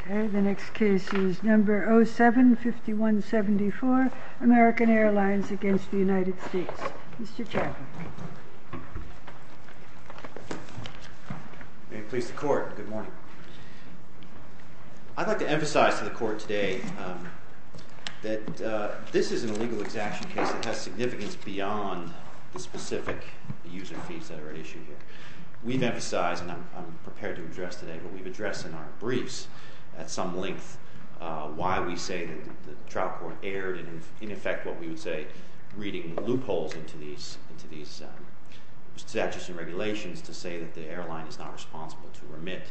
OK, the next case is number 07-5174, American Airlines against the United States. Mr. Chaplin. May it please the court, good morning. I'd like to emphasize to the court today that this is an illegal exaction case that has significance beyond the specific user fees that are at issue here. We've emphasized, and I'm prepared to address today, but we've addressed in our briefs at some length why we say that the trial court erred, and in effect, what we would say, reading loopholes into these statutes and regulations to say that the airline is not responsible to remit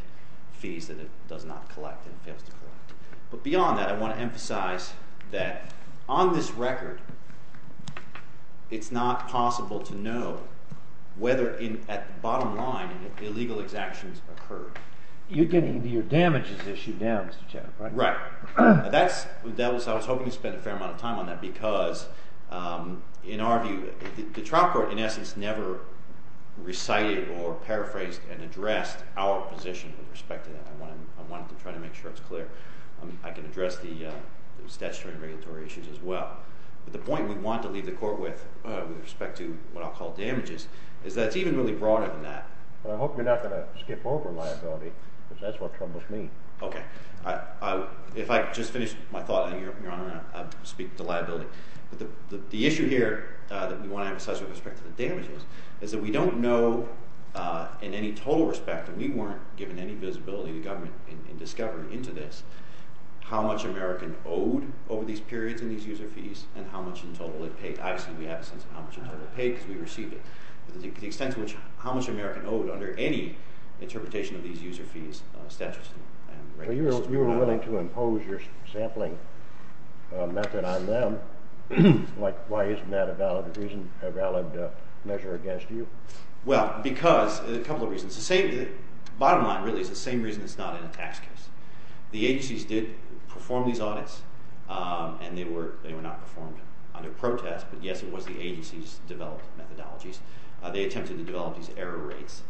fees that it does not collect and fails to collect. But beyond that, I want to emphasize that on this record, it's not possible to know whether at the bottom line illegal exactions occur. You're getting your damages issue down, Mr. Chaplin. Right. I was hoping to spend a fair amount of time on that, because in our view, the trial court, in essence, never recited or paraphrased and addressed our position with respect to that. I wanted to try to make sure it's clear. I can address the statutory and regulatory issues as well. But the point we want to leave the court with, with respect to what I'll call damages, is that it's even really broader than that. But I hope you're not going to skip over liability, because that's what troubles me. OK. If I just finish my thought, Your Honor, I'll speak to liability. But the issue here that we want to emphasize with respect to the damages is that we don't know, in any total respect, and we weren't given any visibility to government in discovering into this, how much American owed over these periods in these user fees and how much in total it paid. Obviously, we have a sense of how much in total it paid, because we received it. But the extent to which how much American owed under any interpretation of these user fees, statutes, and regulations. You were willing to impose your sampling method on them. Why isn't that a valid measure against you? Well, because a couple of reasons. Bottom line, really, is the same reason it's not in a tax case. The agencies did perform these audits. And they were not performed under protest. But yes, it was the agencies developed methodologies. They attempted to develop these error rates.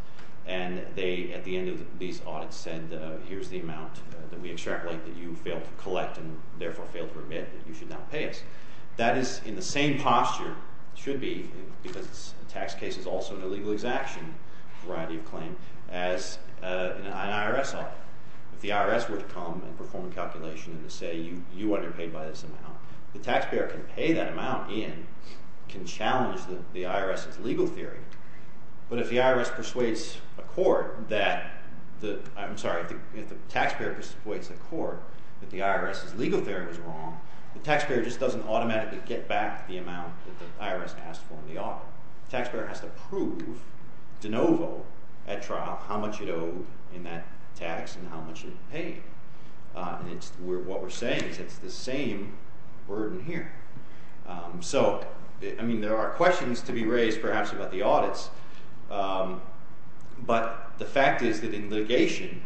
And they, at the end of these audits, said, here's the amount that we extrapolate that you failed to collect, and therefore failed to remit, that you should not pay us. That is in the same posture, should be, because a tax case is also an illegal exaction variety of claim, as an IRS audit. If the IRS were to come and perform a calculation and say, you underpaid by this amount, the taxpayer can pay that amount in, can challenge the IRS's legal theory. But if the IRS persuades a court that the, I'm sorry, if the taxpayer persuades the court that the IRS's legal theory was wrong, the taxpayer just doesn't automatically get back the amount that the IRS asked for in the audit. Taxpayer has to prove de novo at trial how much it owed in that tax, and how much it paid. And it's, what we're saying is it's the same burden here. So, I mean, there are questions to be raised, perhaps, about the audits. But the fact is that in litigation,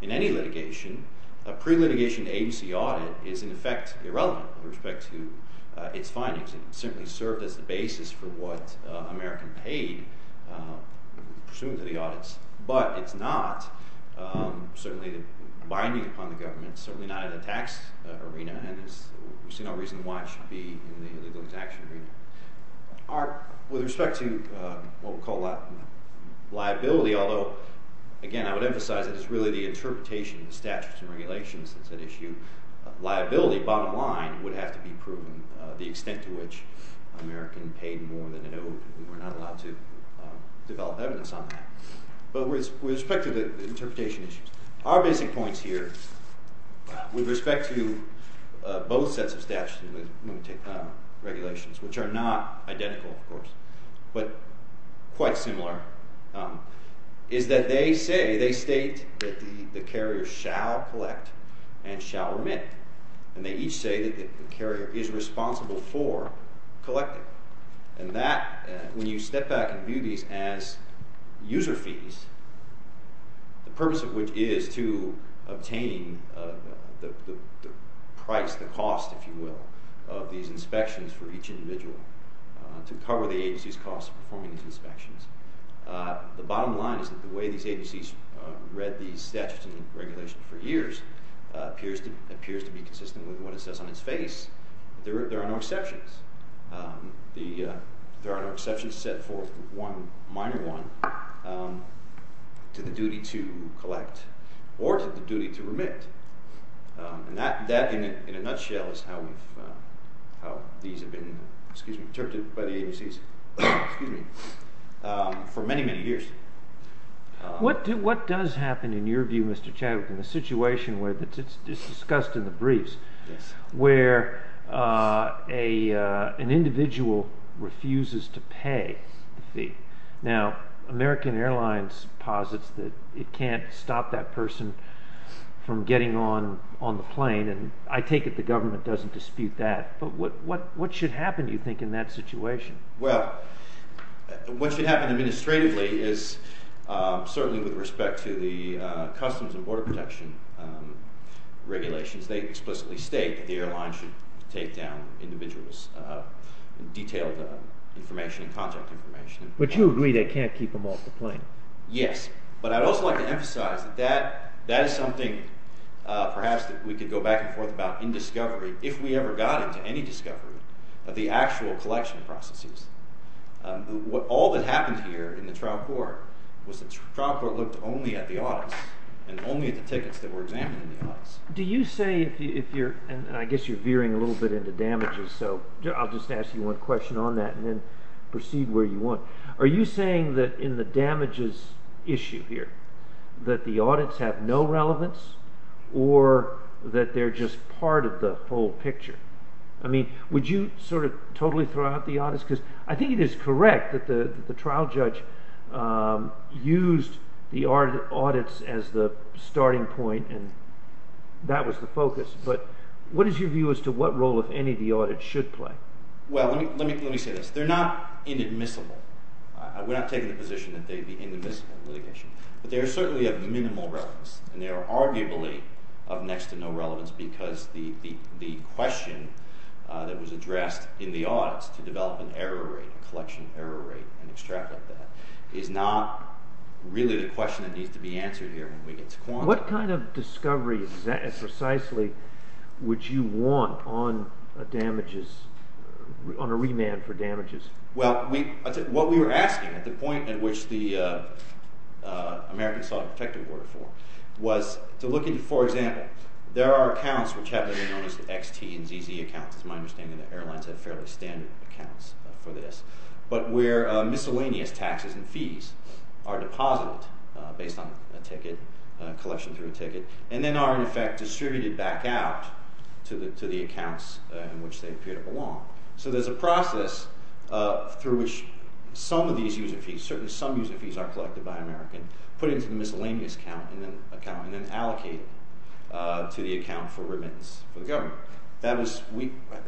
in any litigation, a pre-litigation agency audit is, in effect, irrelevant with respect to its findings. It simply served as the basis for what American paid, pursuant to the audits. But it's not, certainly, binding upon the government, certainly not in the tax arena, and there's no reason why it should be in the legal execution arena. Our, with respect to what we call liability, although, again, I would emphasize it is really the interpretation of the statutes and regulations that's at issue. Liability, bottom line, would have to be proven. The extent to which American paid more than it owed, we're not allowed to develop evidence on that. But with respect to the interpretation issues, our basic points here, with respect to both sets of statutes when we take regulations, which are not identical, of course, but quite similar, is that they say, they state that the carrier shall collect and shall remit. And they each say that the carrier is responsible for collecting. And that, when you step back and view these as user fees, the purpose of which is to obtain the price, the cost, if you will, of these inspections for each individual to cover the agency's cost of performing these inspections. The bottom line is that the way these agencies read these statutes and regulations for years appears to be consistent with what it says on its face. There are no exceptions. There are no exceptions set forth, one minor one, to the duty to collect or to the duty to remit. And that, in a nutshell, is how these have been, excuse me, interpreted by the agencies, excuse me, for many, many years. What does happen, in your view, Mr. Chavik, in the situation where, it's discussed in the briefs, where an individual refuses to pay the fee? Now, American Airlines posits that it can't stop that person from getting on the plane, and I take it the government doesn't dispute that. But what should happen, do you think, in that situation? Well, what should happen administratively is certainly with respect to the customs and border protection regulations, they explicitly state that the airline should take down individuals' detailed information and contact information. But you agree they can't keep them off the plane? Yes, but I'd also like to emphasize that that is something perhaps that we could go back and forth about in discovery, if we ever got into any discovery, of the actual collection processes. All that happened here in the trial court was the trial court looked only at the audits and only at the tickets that were examined in the audits. Do you say if you're, and I guess you're veering a little bit into damages, so I'll just ask you one question on that and then proceed where you want. Are you saying that in the damages issue here, that the audits have no relevance or that they're just part of the full picture? I mean, would you sort of totally throw out the audits? Because I think it is correct that the trial judge used the audits as the starting point and that was the focus. But what is your view as to what role, if any, the audits should play? Well, let me say this. They're not inadmissible. We're not taking the position that they'd be inadmissible in litigation. But they are certainly of minimal relevance and they are arguably of next to no relevance because the question that was addressed in the audits to develop an error rate, a collection error rate, and extract like that, is not really the question that needs to be answered here when we get to quantum. What kind of discovery, precisely, would you want on a damages, on a remand for damages? Well, what we were asking, at the point at which the Americans saw a protective order form, was to look into, for example, there are accounts which have been known as the XT and ZZ accounts. It's my understanding that airlines have fairly standard accounts for this. But where miscellaneous taxes and fees are deposited based on a ticket, collection through a ticket, and then are, in effect, distributed back out to the accounts in which they appear to belong. So there's a process through which some of these user fees, certainly some user fees are collected by American, put into the miscellaneous account and then allocated to the account for remittance for the government. That was,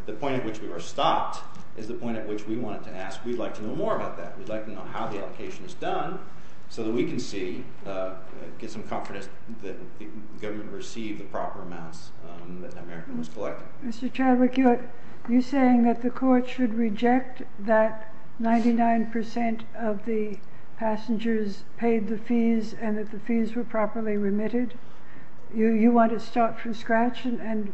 the point at which we were stopped is the point at which we wanted to ask, we'd like to know more about that. We'd like to know how the allocation is done so that we can see, get some confidence that the government received the proper amounts that the American was collecting. Mr. Chadwick, you're saying that the court should reject that 99% of the passengers paid the fees and that the fees were properly remitted? You want to start from scratch and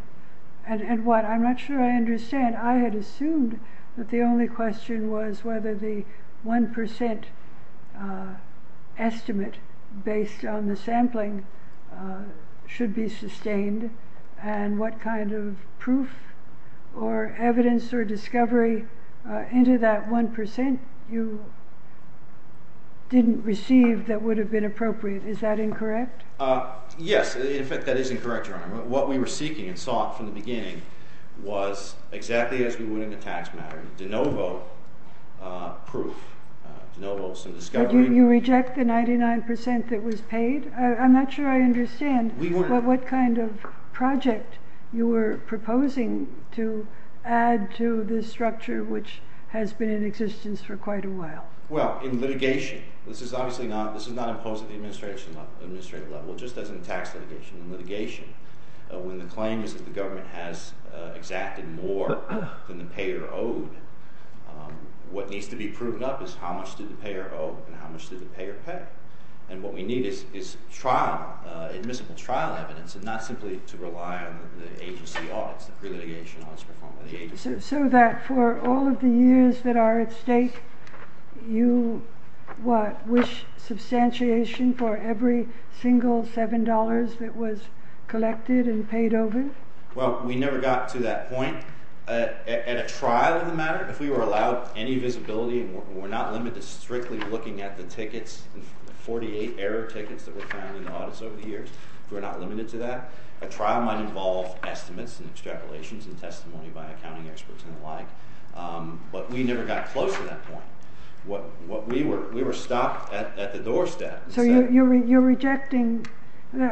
what? I'm not sure I understand. I had assumed that the only question was whether the 1% estimate based on the sampling should be sustained and what kind of proof or evidence or discovery into that 1% you didn't receive that would have been appropriate. Is that incorrect? Yes, in fact, that is incorrect, Your Honor. What we were seeking and sought from the beginning was exactly as we would in the tax matter. De novo proof, de novo some discovery. You reject the 99% that was paid? I'm not sure I understand what kind of project you were proposing to add to this structure which has been in existence for quite a while. Well, in litigation, this is obviously not, this is not imposed at the administrative level, just as in tax litigation. In litigation, when the claim is that the government has exacted more than the payer owed, what needs to be proven up is how much did the payer owe and how much did the payer pay? And what we need is trial, admissible trial evidence and not simply to rely on the agency audits, the pre-litigation audits performed by the agency. So that for all of the years that are at stake, you what, wish substantiation for every single $7 that was collected and paid over? Well, we never got to that point. At a trial of the matter, if we were allowed any visibility and we're not limited to strictly looking at the tickets, 48 error tickets that were found in the audits over the years, if we're not limited to that, a trial might involve estimates and extrapolations and testimony by accounting experts and the like, but we never got close to that point. What we were, we were stopped at the doorstep. So you're rejecting,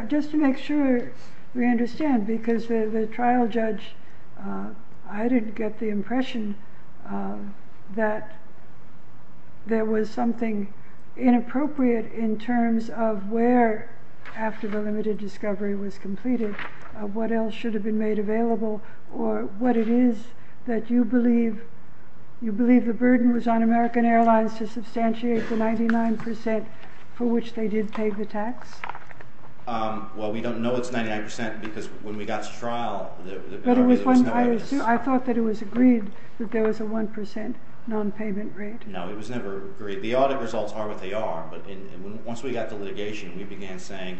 just to make sure we understand, because the trial judge, I didn't get the impression that there was something inappropriate in terms of where, after the limited discovery was completed, of what else should have been made available or what it is that you believe, you believe the burden was on American Airlines to substantiate the 99% for which they did pay the tax? Well, we don't know it's 99% because when we got to trial, the burden was not on us. I thought that it was agreed that there was a 1% non-payment rate. No, it was never agreed. The audit results are what they are, but once we got to litigation, we began saying,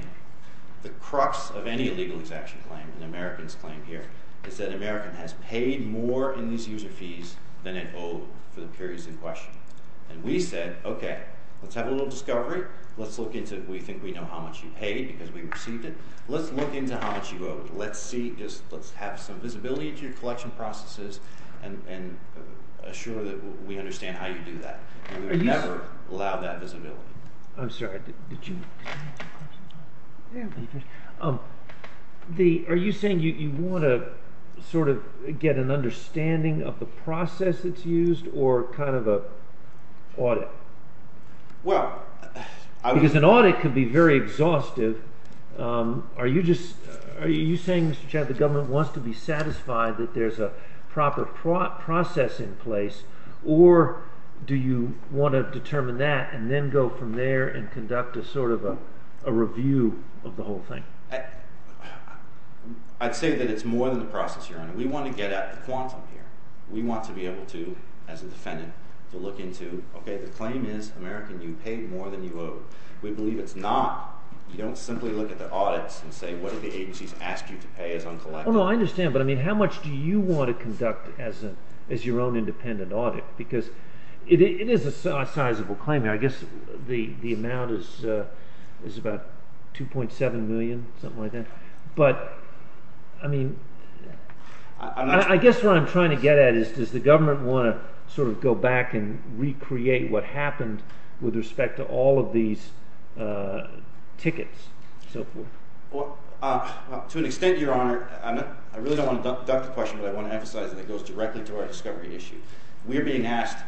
the crux of any illegal execution claim, an American's claim here, is that American has paid more in these user fees than it owed for the periods in question. And we said, okay, let's have a little discovery. Let's look into it. We think we know how much you paid because we received it. Let's look into how much you owe. Let's see, just let's have some visibility to your collection processes and assure that we understand how you do that. We would never allow that visibility. I'm sorry, did you? The, are you saying you wanna sort of get an understanding of the process that's used or kind of a audit? Well, I was- Because an audit can be very exhaustive. Are you just, are you saying, Mr. Chad, the government wants to be satisfied that there's a proper process in place, or do you wanna determine that and then go from there and conduct a sort of a review of the whole thing? I'd say that it's more than the process, Your Honor. We wanna get at the quantum here. We want to be able to, as a defendant, to look into, okay, the claim is, American, you paid more than you owe. We believe it's not. You don't simply look at the audits and say, what did the agencies ask you to pay as I'm collecting? Well, no, I understand, but I mean, how much do you wanna conduct as your own independent audit? Because it is a sizable claim. I guess the amount is about 2.7 million, something like that. But, I mean, I guess what I'm trying to get at is, does the government wanna sort of go back and recreate what happened with respect to all of these tickets? To an extent, Your Honor, I really don't wanna duck the question, but I wanna emphasize that it goes directly to our discovery issue. We're being asked,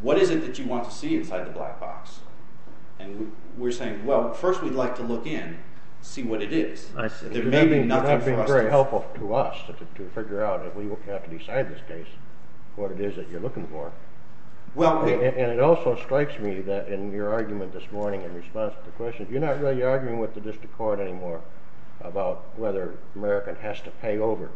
what is it that you want to see inside the black box? And we're saying, well, first, we'd like to look in, see what it is. There may be nothing for us to- That'd be very helpful to us to figure out if we will have to decide this case, what it is that you're looking for. Well, we- And it also strikes me that in your argument this morning in response to the question, you're not really arguing with the district court anymore about whether American has to pay over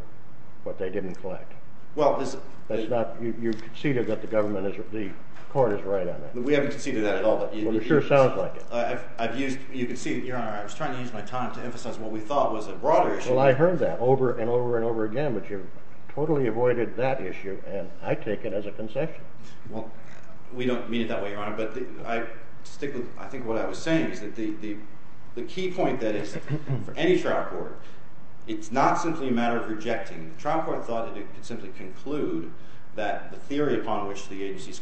what they didn't collect. Well, this- That's not, you conceded that the government is, the court is right on that. We haven't conceded that at all, but you- Well, it sure sounds like it. I've used, you conceded, Your Honor, I was trying to use my time to emphasize what we thought was a broader issue. Well, I heard that over and over and over again, but you've totally avoided that issue, and I take it as a concession. Well, we don't mean it that way, Your Honor, but I stick with, I think what I was saying is that the key point that is for any trial court, it's not simply a matter of rejecting. The trial court thought that it could simply conclude that the theory upon which the agencies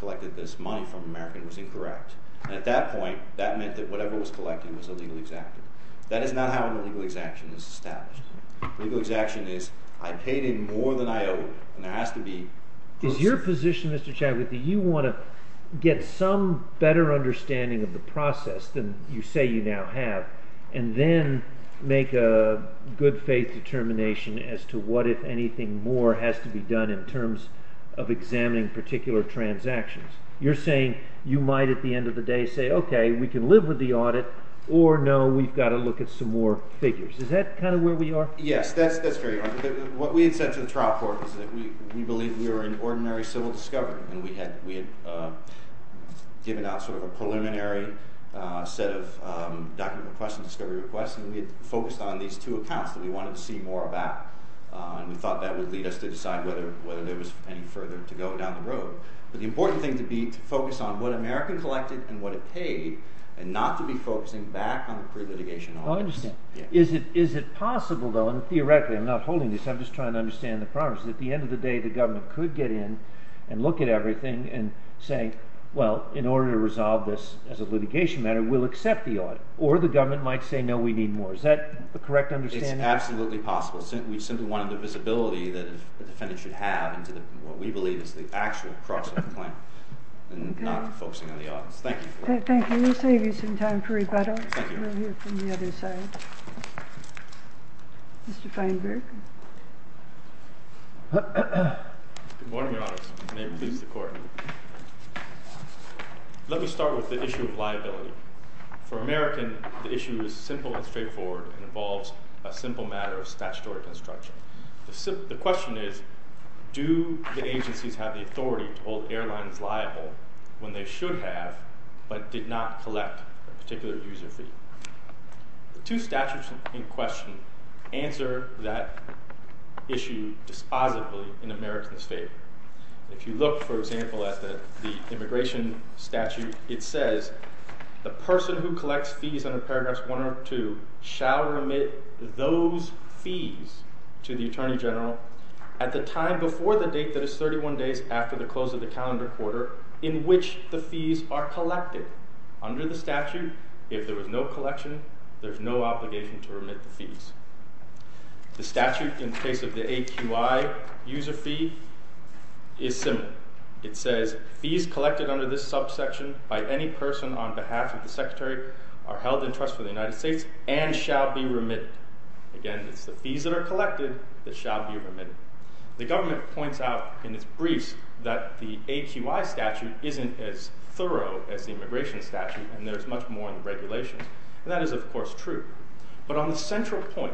collected this money from American was incorrect. And at that point, that meant that whatever was collected was illegally exacted. That is not how an illegal exaction is established. Illegal exaction is, I paid in more than I owed, and there has to be- Is your position, Mr. Chavity, you want to get some better understanding of the process than you say you now have, and then make a good faith determination as to what, if anything, more has to be done in terms of examining particular transactions? You're saying you might, at the end of the day, say, okay, we can live with the audit, or no, we've got to look at some more figures. Is that kind of where we are? Yes, that's very much. What we had said to the trial court was that we believed we were in ordinary civil discovery, and we had given out sort of a preliminary set of document requests and discovery requests, and we had focused on these two accounts that we wanted to see more about. And we thought that would lead us to decide whether there was any further to go down the road. But the important thing to be to focus on what American collected and what it paid, and not to be focusing back on the pre-litigation audits. Oh, I understand. Is it possible, though, and theoretically, I'm not holding this, I'm just trying to understand the problem, is that at the end of the day, the government could get in and look at everything and say, well, in order to resolve this as a litigation matter, we'll accept the audit, or the government might say, no, we need more. Is that the correct understanding? It's absolutely possible. We simply wanted the visibility that the defendant should have into what we believe is the actual crux of the claim, Thank you. Thank you. We'll save you some time for rebuttal. Thank you. We have one over here from the other side. Mr. Feinberg. Good morning, Your Honors. May it please the Court. Let me start with the issue of liability. For American, the issue is simple and straightforward, and involves a simple matter of statutory construction. The question is, do the agencies have the authority to hold airlines liable when they should have, but did not collect a particular user fee? The two statutes in question answer that issue dispositively in American's favor. If you look, for example, at the immigration statute, it says, the person who collects fees under paragraphs one or two shall remit those fees to the Attorney General at the time before the date that is 31 days after the close of the calendar quarter in which the fees are collected. Under the statute, if there was no collection, there's no obligation to remit the fees. The statute in the case of the AQI user fee is similar. It says, fees collected under this subsection by any person on behalf of the Secretary are held in trust with the United States and shall be remitted. Again, it's the fees that are collected that shall be remitted. The government points out in its briefs that the AQI statute isn't as thorough as the immigration statute, and there's much more in the regulations, and that is, of course, true. But on the central point,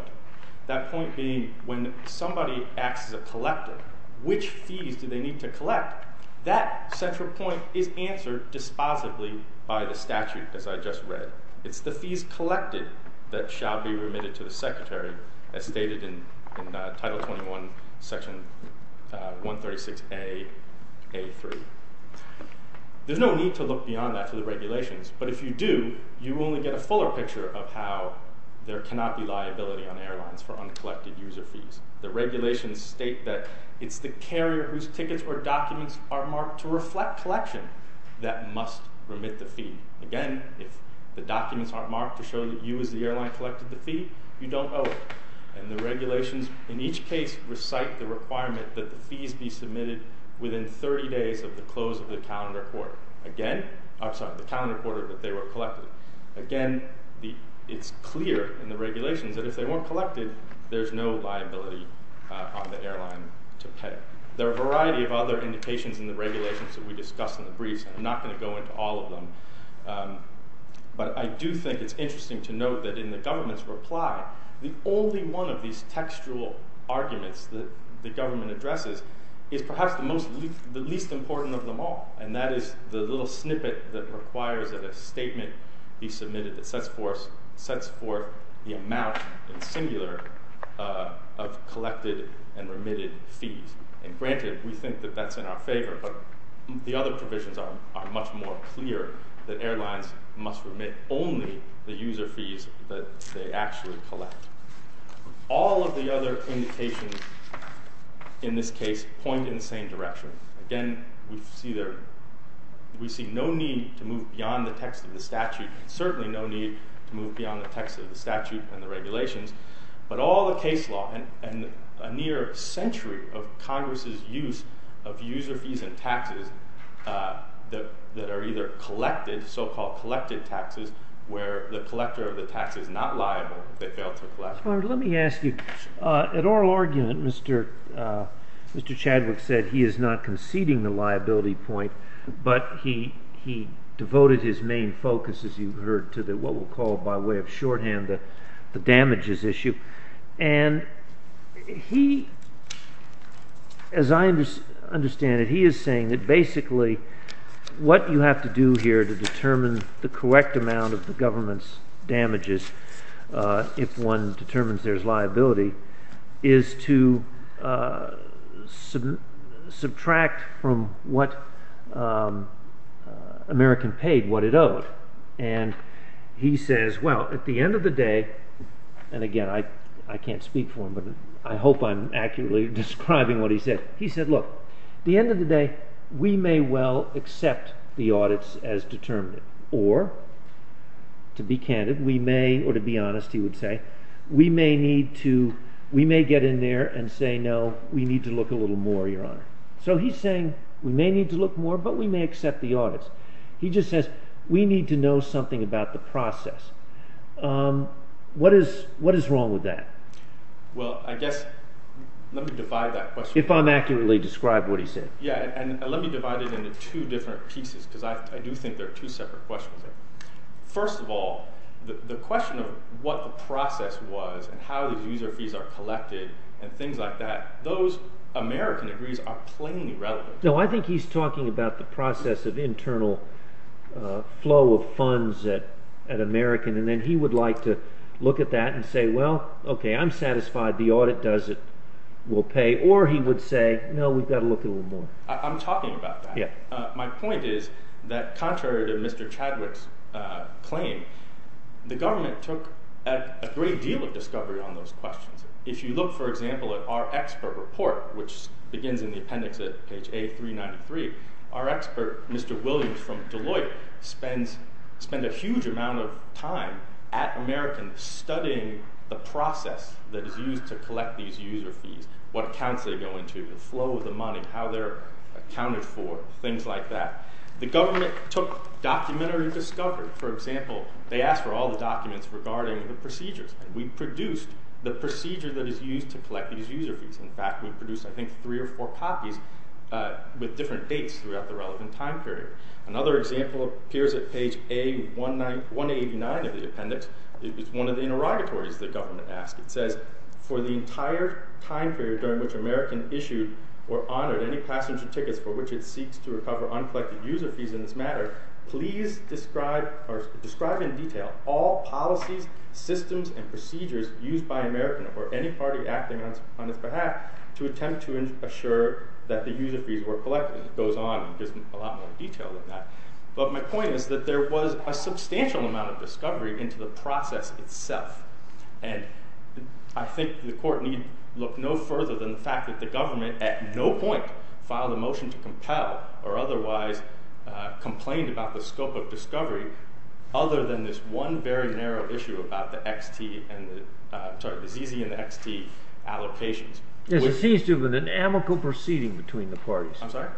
that point being when somebody acts as a collector, which fees do they need to collect? That central point is answered dispositively by the statute, as I just read. It's the fees collected that shall be remitted to the Secretary, as stated in Title 21, Section 136A.A.3. There's no need to look beyond that to the regulations, but if you do, you only get a fuller picture of how there cannot be liability on airlines for uncollected user fees. The regulations state that it's the carrier whose tickets or documents are marked to reflect collection that must remit the fee. Again, if the documents aren't marked to show that you as the airline collected the fee, you don't owe it. And the regulations, in each case, recite the requirement that the fees be submitted within 30 days of the close of the calendar quarter. Again, I'm sorry, the calendar quarter that they were collected. Again, it's clear in the regulations that if they weren't collected, there's no liability on the airline to pay. There are a variety of other indications in the regulations that we discussed in the briefs, and I'm not gonna go into all of them. But I do think it's interesting to note that in the government's reply, the only one of these textual arguments that the government addresses is perhaps the least important of them all, and that is the little snippet that requires that a statement be submitted that sets forth the amount, in singular, of collected and remitted fees. And granted, we think that that's in our favor, but the other provisions are much more clear that airlines must remit only the user fees that they actually collect. All of the other indications in this case point in the same direction. Again, we see no need to move beyond the text of the statute and certainly no need to move beyond the text of the statute and the regulations, but all the case law and a near century of Congress's use of user fees and taxes that are either collected, so-called collected taxes, where the collector of the tax is not liable if they fail to collect. Robert, let me ask you, an oral argument, Mr. Chadwick said he is not conceding the liability point, but he devoted his main focus, as you've heard, to what we'll call by way of shorthand the damages issue. And he, as I understand it, he is saying that basically what you have to do here to determine the correct amount of the government's damages if one determines there's liability is to subtract from what American paid, what it owed. And he says, well, at the end of the day, and again, I can't speak for him, but I hope I'm accurately describing what he said. He said, look, at the end of the day, we may well accept the audits as determined, or to be candid, we may, or to be honest, he would say, we may need to, we may get in there and say, no, we need to look a little more, your honor. So he's saying we may need to look more, but we may accept the audits. He just says, we need to know something about the process. What is wrong with that? Well, I guess, let me divide that question. If I'm accurately described what he said. And let me divide it into two different pieces, because I do think there are two separate questions. First of all, the question of what the process was and how these user fees are collected and things like that, those American degrees are plain irrelevant. No, I think he's talking about the process of internal flow of funds at American. And then he would like to look at that and say, well, okay, I'm satisfied the audit does it, we'll pay. Or he would say, no, we've got to look at a little more. I'm talking about that. My point is that contrary to Mr. Chadwick's claim, the government took a great deal of discovery on those questions. If you look, for example, at our expert report, which begins in the appendix at page A393, our expert, Mr. Williams from Deloitte, spend a huge amount of time at American studying the process that is used to collect these user fees, what accounts they go into, the flow of the money, how they're accounted for, things like that. The government took documentary discovery. For example, they asked for all the documents regarding the procedures and we produced the procedure that is used to collect these user fees. In fact, we produced, I think, three or four copies with different dates throughout the relevant time period. Another example appears at page A189 of the appendix. It was one of the interrogatories the government asked. It says, for the entire time period during which American issued or honored any passenger tickets for which it seeks to recover uncollected user fees in this matter, please describe in detail all policies, systems, and procedures used by American or any party acting on its behalf to attempt to assure that the user fees were collected. It goes on and gives a lot more detail than that. But my point is that there was a substantial amount of discovery into the process itself. And I think the court need look no further than the fact that the government at no point filed a motion to compel or otherwise complained about the scope of discovery other than this one very narrow issue about the XT and the, sorry, the ZZ and the XT allocations. Yes, it seems to have been an amicable proceeding between the parties. I'm sorry?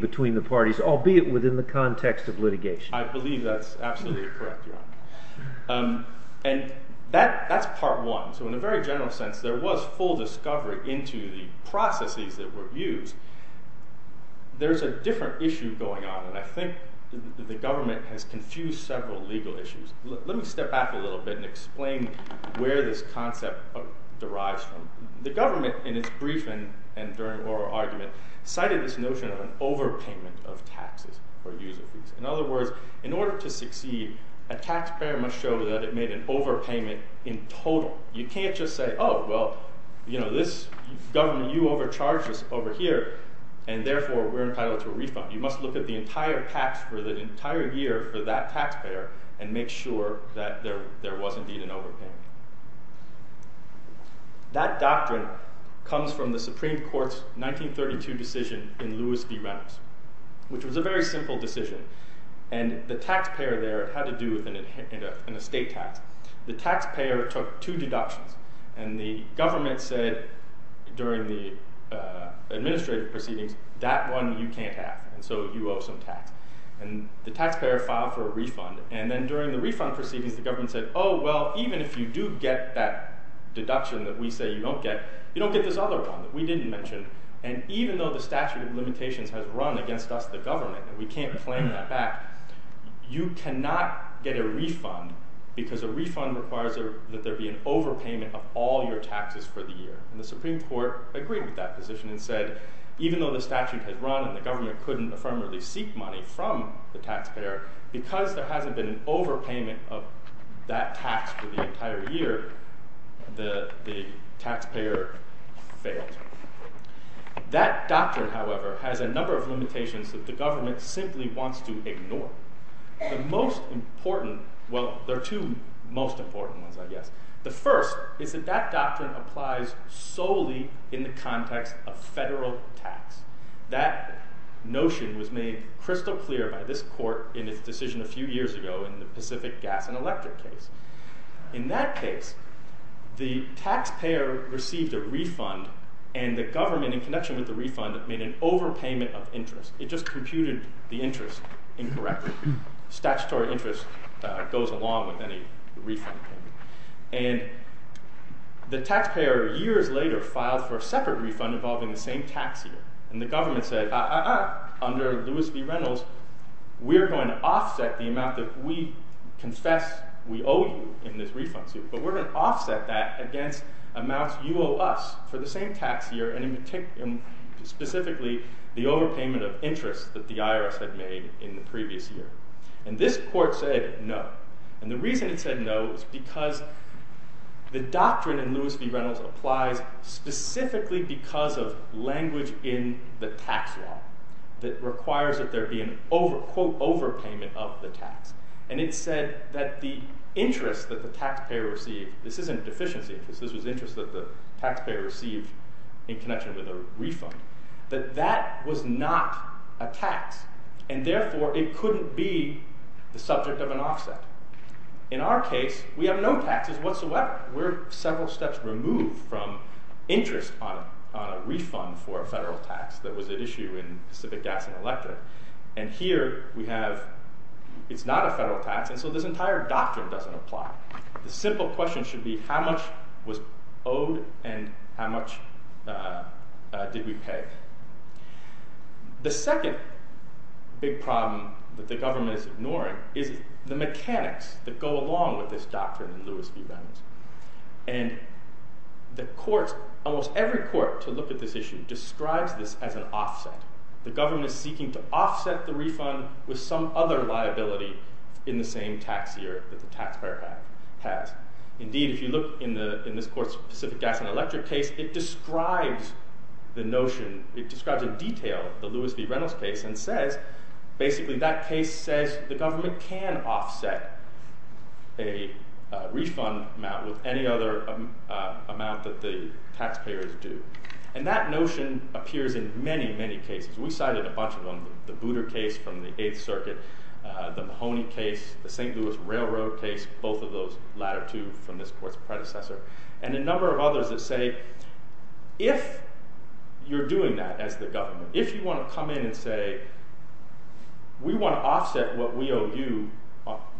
between the parties, albeit within the context of litigation. I believe that's absolutely correct, Your Honor. And that's part one. So in a very general sense, there was full discovery into the processes that were used. There's a different issue going on, and I think that the government has confused several legal issues. Let me step back a little bit and explain where this concept derives from. The government in its briefing and during oral argument cited this notion of an overpayment of taxes or user fees. In other words, in order to succeed, a taxpayer must show that it made an overpayment in total. You can't just say, oh, well, you know, this government, you overcharged us over here, and therefore we're entitled to a refund. You must look at the entire tax for the entire year for that taxpayer and make sure that there was indeed an overpayment. That doctrine comes from the Supreme Court's 1932 decision in Lewis v. Reynolds, which was a very simple decision. And the taxpayer there had to do with an estate tax. The taxpayer took two deductions, and the government said during the administrative proceedings that one you can't have, and so you owe some tax. And the taxpayer filed for a refund. And then during the refund proceedings, the government said, oh, well, even if you do get that deduction that we say you don't get, you don't get this other one that we didn't mention. And even though the statute of limitations has run against us, the government, and we can't claim that back, you cannot get a refund because a refund requires that there be an overpayment of all your taxes for the year. And the Supreme Court agreed with that position and said, even though the statute has run and the government couldn't affirmatively seek money from the taxpayer, because there hasn't been an overpayment of that tax for the entire year, the taxpayer failed. That doctrine, however, has a number of limitations that the government simply wants to ignore. The most important, well, there are two most important ones, I guess. The first is that that doctrine applies solely in the context of federal tax. That notion was made crystal clear by this court in its decision a few years ago in the Pacific Gas and Electric case. In that case, the taxpayer received a refund, and the government, in connection with the refund, made an overpayment of interest. It just computed the interest incorrectly. Statutory interest goes along with any refund payment. And the taxpayer, years later, filed for a separate refund involving the same tax year. And the government said, uh-uh, under Lewis v. Reynolds, we're going to offset the amount that we confess we owe you in this refund suit, but we're gonna offset that against amounts you owe us for the same tax year, and specifically, the overpayment of interest that the IRS had made in the previous year. And this court said no. And the reason it said no was because the doctrine in Lewis v. Reynolds applies specifically because of language in the tax law that requires that there be an, quote, overpayment of the tax. And it said that the interest that the taxpayer received, this isn't deficiency interest, this was interest that the taxpayer received in connection with a refund, that that was not a tax. And therefore, it couldn't be the subject of an offset. In our case, we have no taxes whatsoever. We're several steps removed from interest on a refund for a federal tax that was at issue in Pacific Gas and Electric. And here, we have, it's not a federal tax, and so this entire doctrine doesn't apply. The simple question should be how much was owed and how much did we pay? The second big problem that the government is ignoring is the mechanics that go along with this doctrine in Lewis v. Reynolds. And the courts, almost every court to look at this issue describes this as an offset. The government is seeking to offset the refund with some other liability in the same tax year that the taxpayer has. Indeed, if you look in this court's Pacific Gas and Electric case, it describes the notion, it describes in detail the Lewis v. Reynolds case and says, basically, that case says the government can offset a refund amount with any other amount that the taxpayers do. And that notion appears in many, many cases. We cited a bunch of them, the Booter case from the Eighth Circuit, the Mahoney case, the St. Louis Railroad case, both of those latter two from this court's predecessor, and a number of others that say, if you're doing that as the government, if you wanna come in and say, we wanna offset what we owe you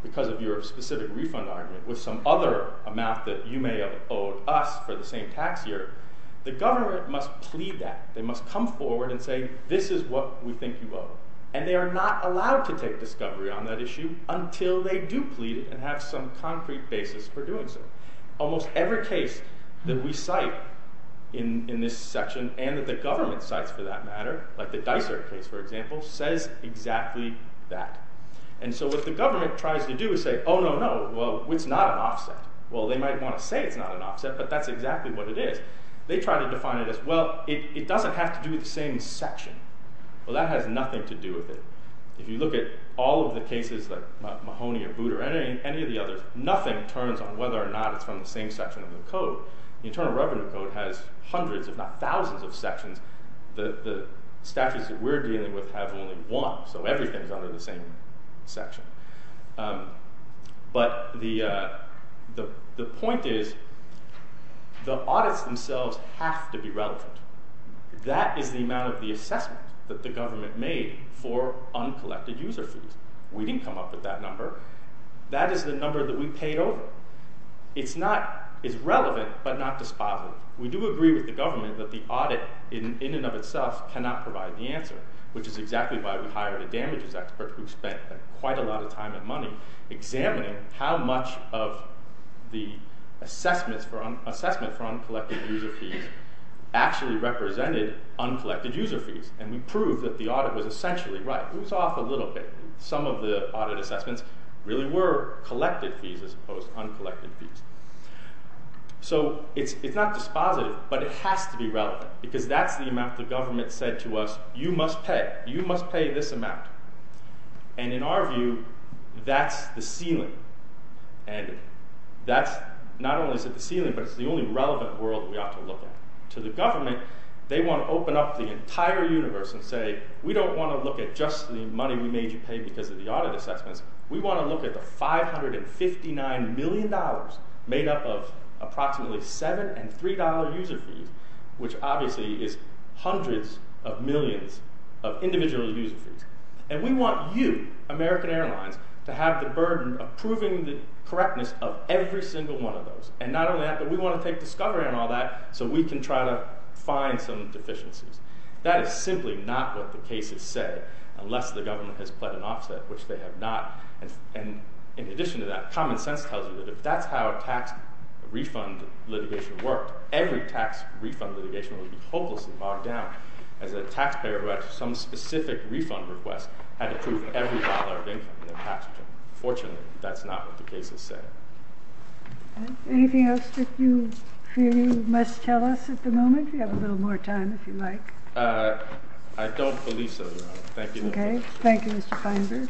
because of your specific refund argument with some other amount that you may have owed us for the same tax year, the government must plead that. They must come forward and say, this is what we think you owe. And they are not allowed to take discovery on that issue until they do plead it and have some concrete basis for doing so. Almost every case that we cite in this section and that the government cites, for that matter, like the Dicer case, for example, says exactly that. And so what the government tries to do is say, oh, no, no, well, it's not an offset. Well, they might wanna say it's not an offset, but that's exactly what it is. They try to define it as, well, it doesn't have to do with the same section. Well, that has nothing to do with it. If you look at all of the cases, like Mahoney or Booter, any of the others, nothing turns on whether or not it's from the same section of the code. The Internal Revenue Code has hundreds, if not thousands of sections. The statutes that we're dealing with have only one, so everything's under the same section. But the point is, the audits themselves have to be relevant. That is the amount of the assessment that the government made for uncollected user fees. We didn't come up with that number. That is the number that we paid over. It's not, it's relevant, but not dispositive. We do agree with the government that the audit, in and of itself, cannot provide the answer, which is exactly why we hired a damages expert who spent quite a lot of time and money examining how much of the assessment for uncollected user fees actually represented uncollected user fees, and we proved that the audit was essentially right. It was off a little bit. Some of the audit assessments really were collected fees as opposed to uncollected fees. So it's not dispositive, but it has to be relevant, because that's the amount the government said to us, you must pay, you must pay this amount. And in our view, that's the ceiling. And that's, not only is it the ceiling, but it's the only relevant world we ought to look at. To the government, they want to open up the entire universe and say, we don't want to look at just the money we made you pay because of the audit assessments. We want to look at the $559 million made up of approximately seven and three dollar user fees, which obviously is hundreds of millions of individual user fees. And we want you, American Airlines, to have the burden of proving the correctness of every single one of those, and not only that, but we want to take discovery on all that so we can try to find some deficiencies. That is simply not what the cases say, unless the government has pled an offset, which they have not. And in addition to that, common sense tells you that if that's how a tax refund litigation worked, every tax refund litigation would be hopelessly bogged down as a taxpayer who had some specific refund request had to prove every dollar of income in their tax return. Fortunately, that's not what the cases say. Anything else that you feel you must tell us at the moment? We have a little more time, if you'd like. I don't believe so, Your Honor. Thank you. Okay, thank you, Mr. Feinberg.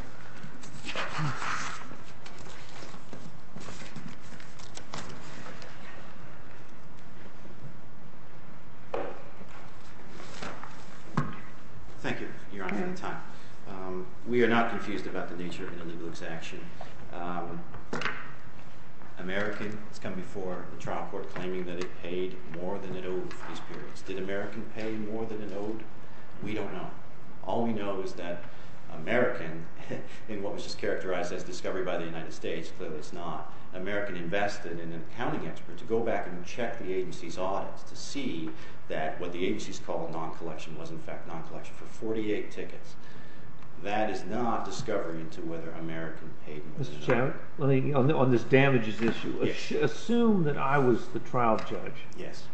Thank you, Your Honor, for your time. We are not confused about the nature of the legal execution. American, it's come before the trial court claiming that it paid more than it owed for these periods. Did American pay more than it owed? We don't know. All we know is that American, in what was just characterized as discovery by the United States, clearly it's not, American invested in an accounting expert to go back and check the agency's audits to see that what the agency's called non-collection was in fact non-collection for 48 tickets. That is not discovery into whether American paid more. Mr. Chan, let me, on this damages issue, assume that I was the trial judge. Yes.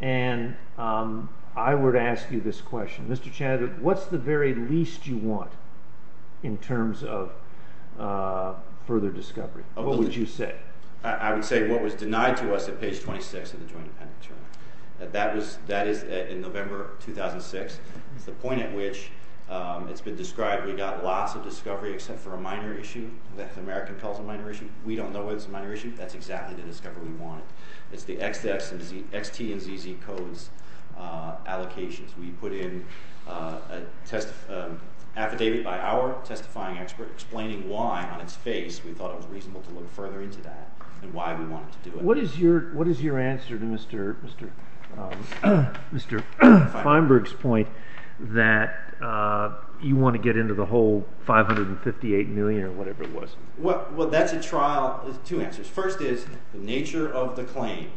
And I were to ask you this question. Mr. Chan, what's the very least you want in terms of further discovery? What would you say? I would say what was denied to us at page 26 of the joint appendix. That is in November 2006. It's the point at which it's been described. We got lots of discovery except for a minor issue that American calls a minor issue. We don't know why it's a minor issue. That's exactly the discovery we wanted. It's the XT and ZZ codes allocations. We put in a test, affidavit by our testifying expert explaining why on its face we thought it was reasonable to look further into that and why we wanted to do it. What is your answer to Mr. Feinberg's point that you want to get into the whole 558 million or whatever it was? Well, that's a trial. Two answers. First is the nature of the claim.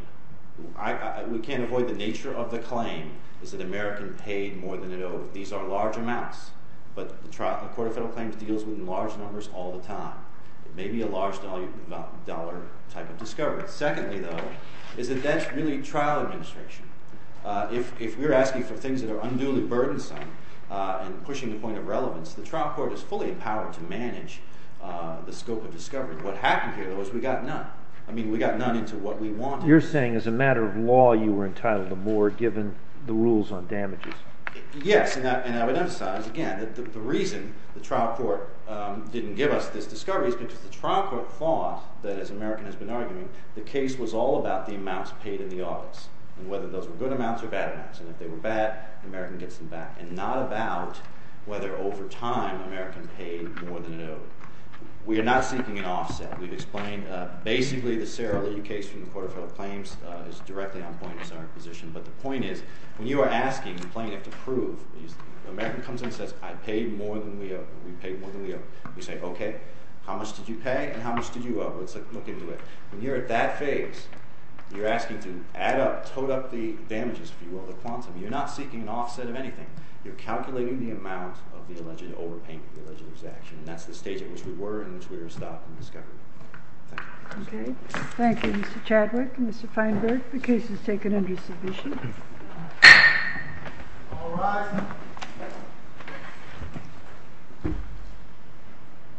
We can't avoid the nature of the claim is that American paid more than it owed. These are large amounts, but the Court of Federal Claims deals with large numbers all the time. It may be a large dollar type of discovery. Secondly, though, is that that's really trial administration. If we're asking for things that are unduly burdensome and pushing the point of relevance, the trial court is fully empowered to manage the scope of discovery. What happened here, though, is we got none. I mean, we got none into what we wanted. You're saying as a matter of law, you were entitled to more given the rules on damages. Yes, and I would emphasize again that the reason the trial court didn't give us this discovery is because the trial court thought that as American has been arguing, the case was all about the amounts paid in the office and whether those were good amounts or bad amounts, and if they were bad, American gets them back and not about whether over time American paid more than it owed. We are not seeking an offset. We've explained basically the Sarah Lee case from the Court of Federal Claims is directly on point as our position, but the point is when you are asking plaintiff to prove, American comes in and says, I paid more than we owed. We paid more than we owed. We say, okay, how much did you pay and how much did you owe? Let's look into it. When you're at that phase, you're asking to add up, toad up the damages, if you will, the quantum. You're not seeking an offset of anything. You're calculating the amount of the alleged overpaying for the alleged exaction. That's the stage at which we were in which we were stopped and discovered. Thank you, Mr. Chadwick and Mr. Feinberg. The case is taken under submission. All rise.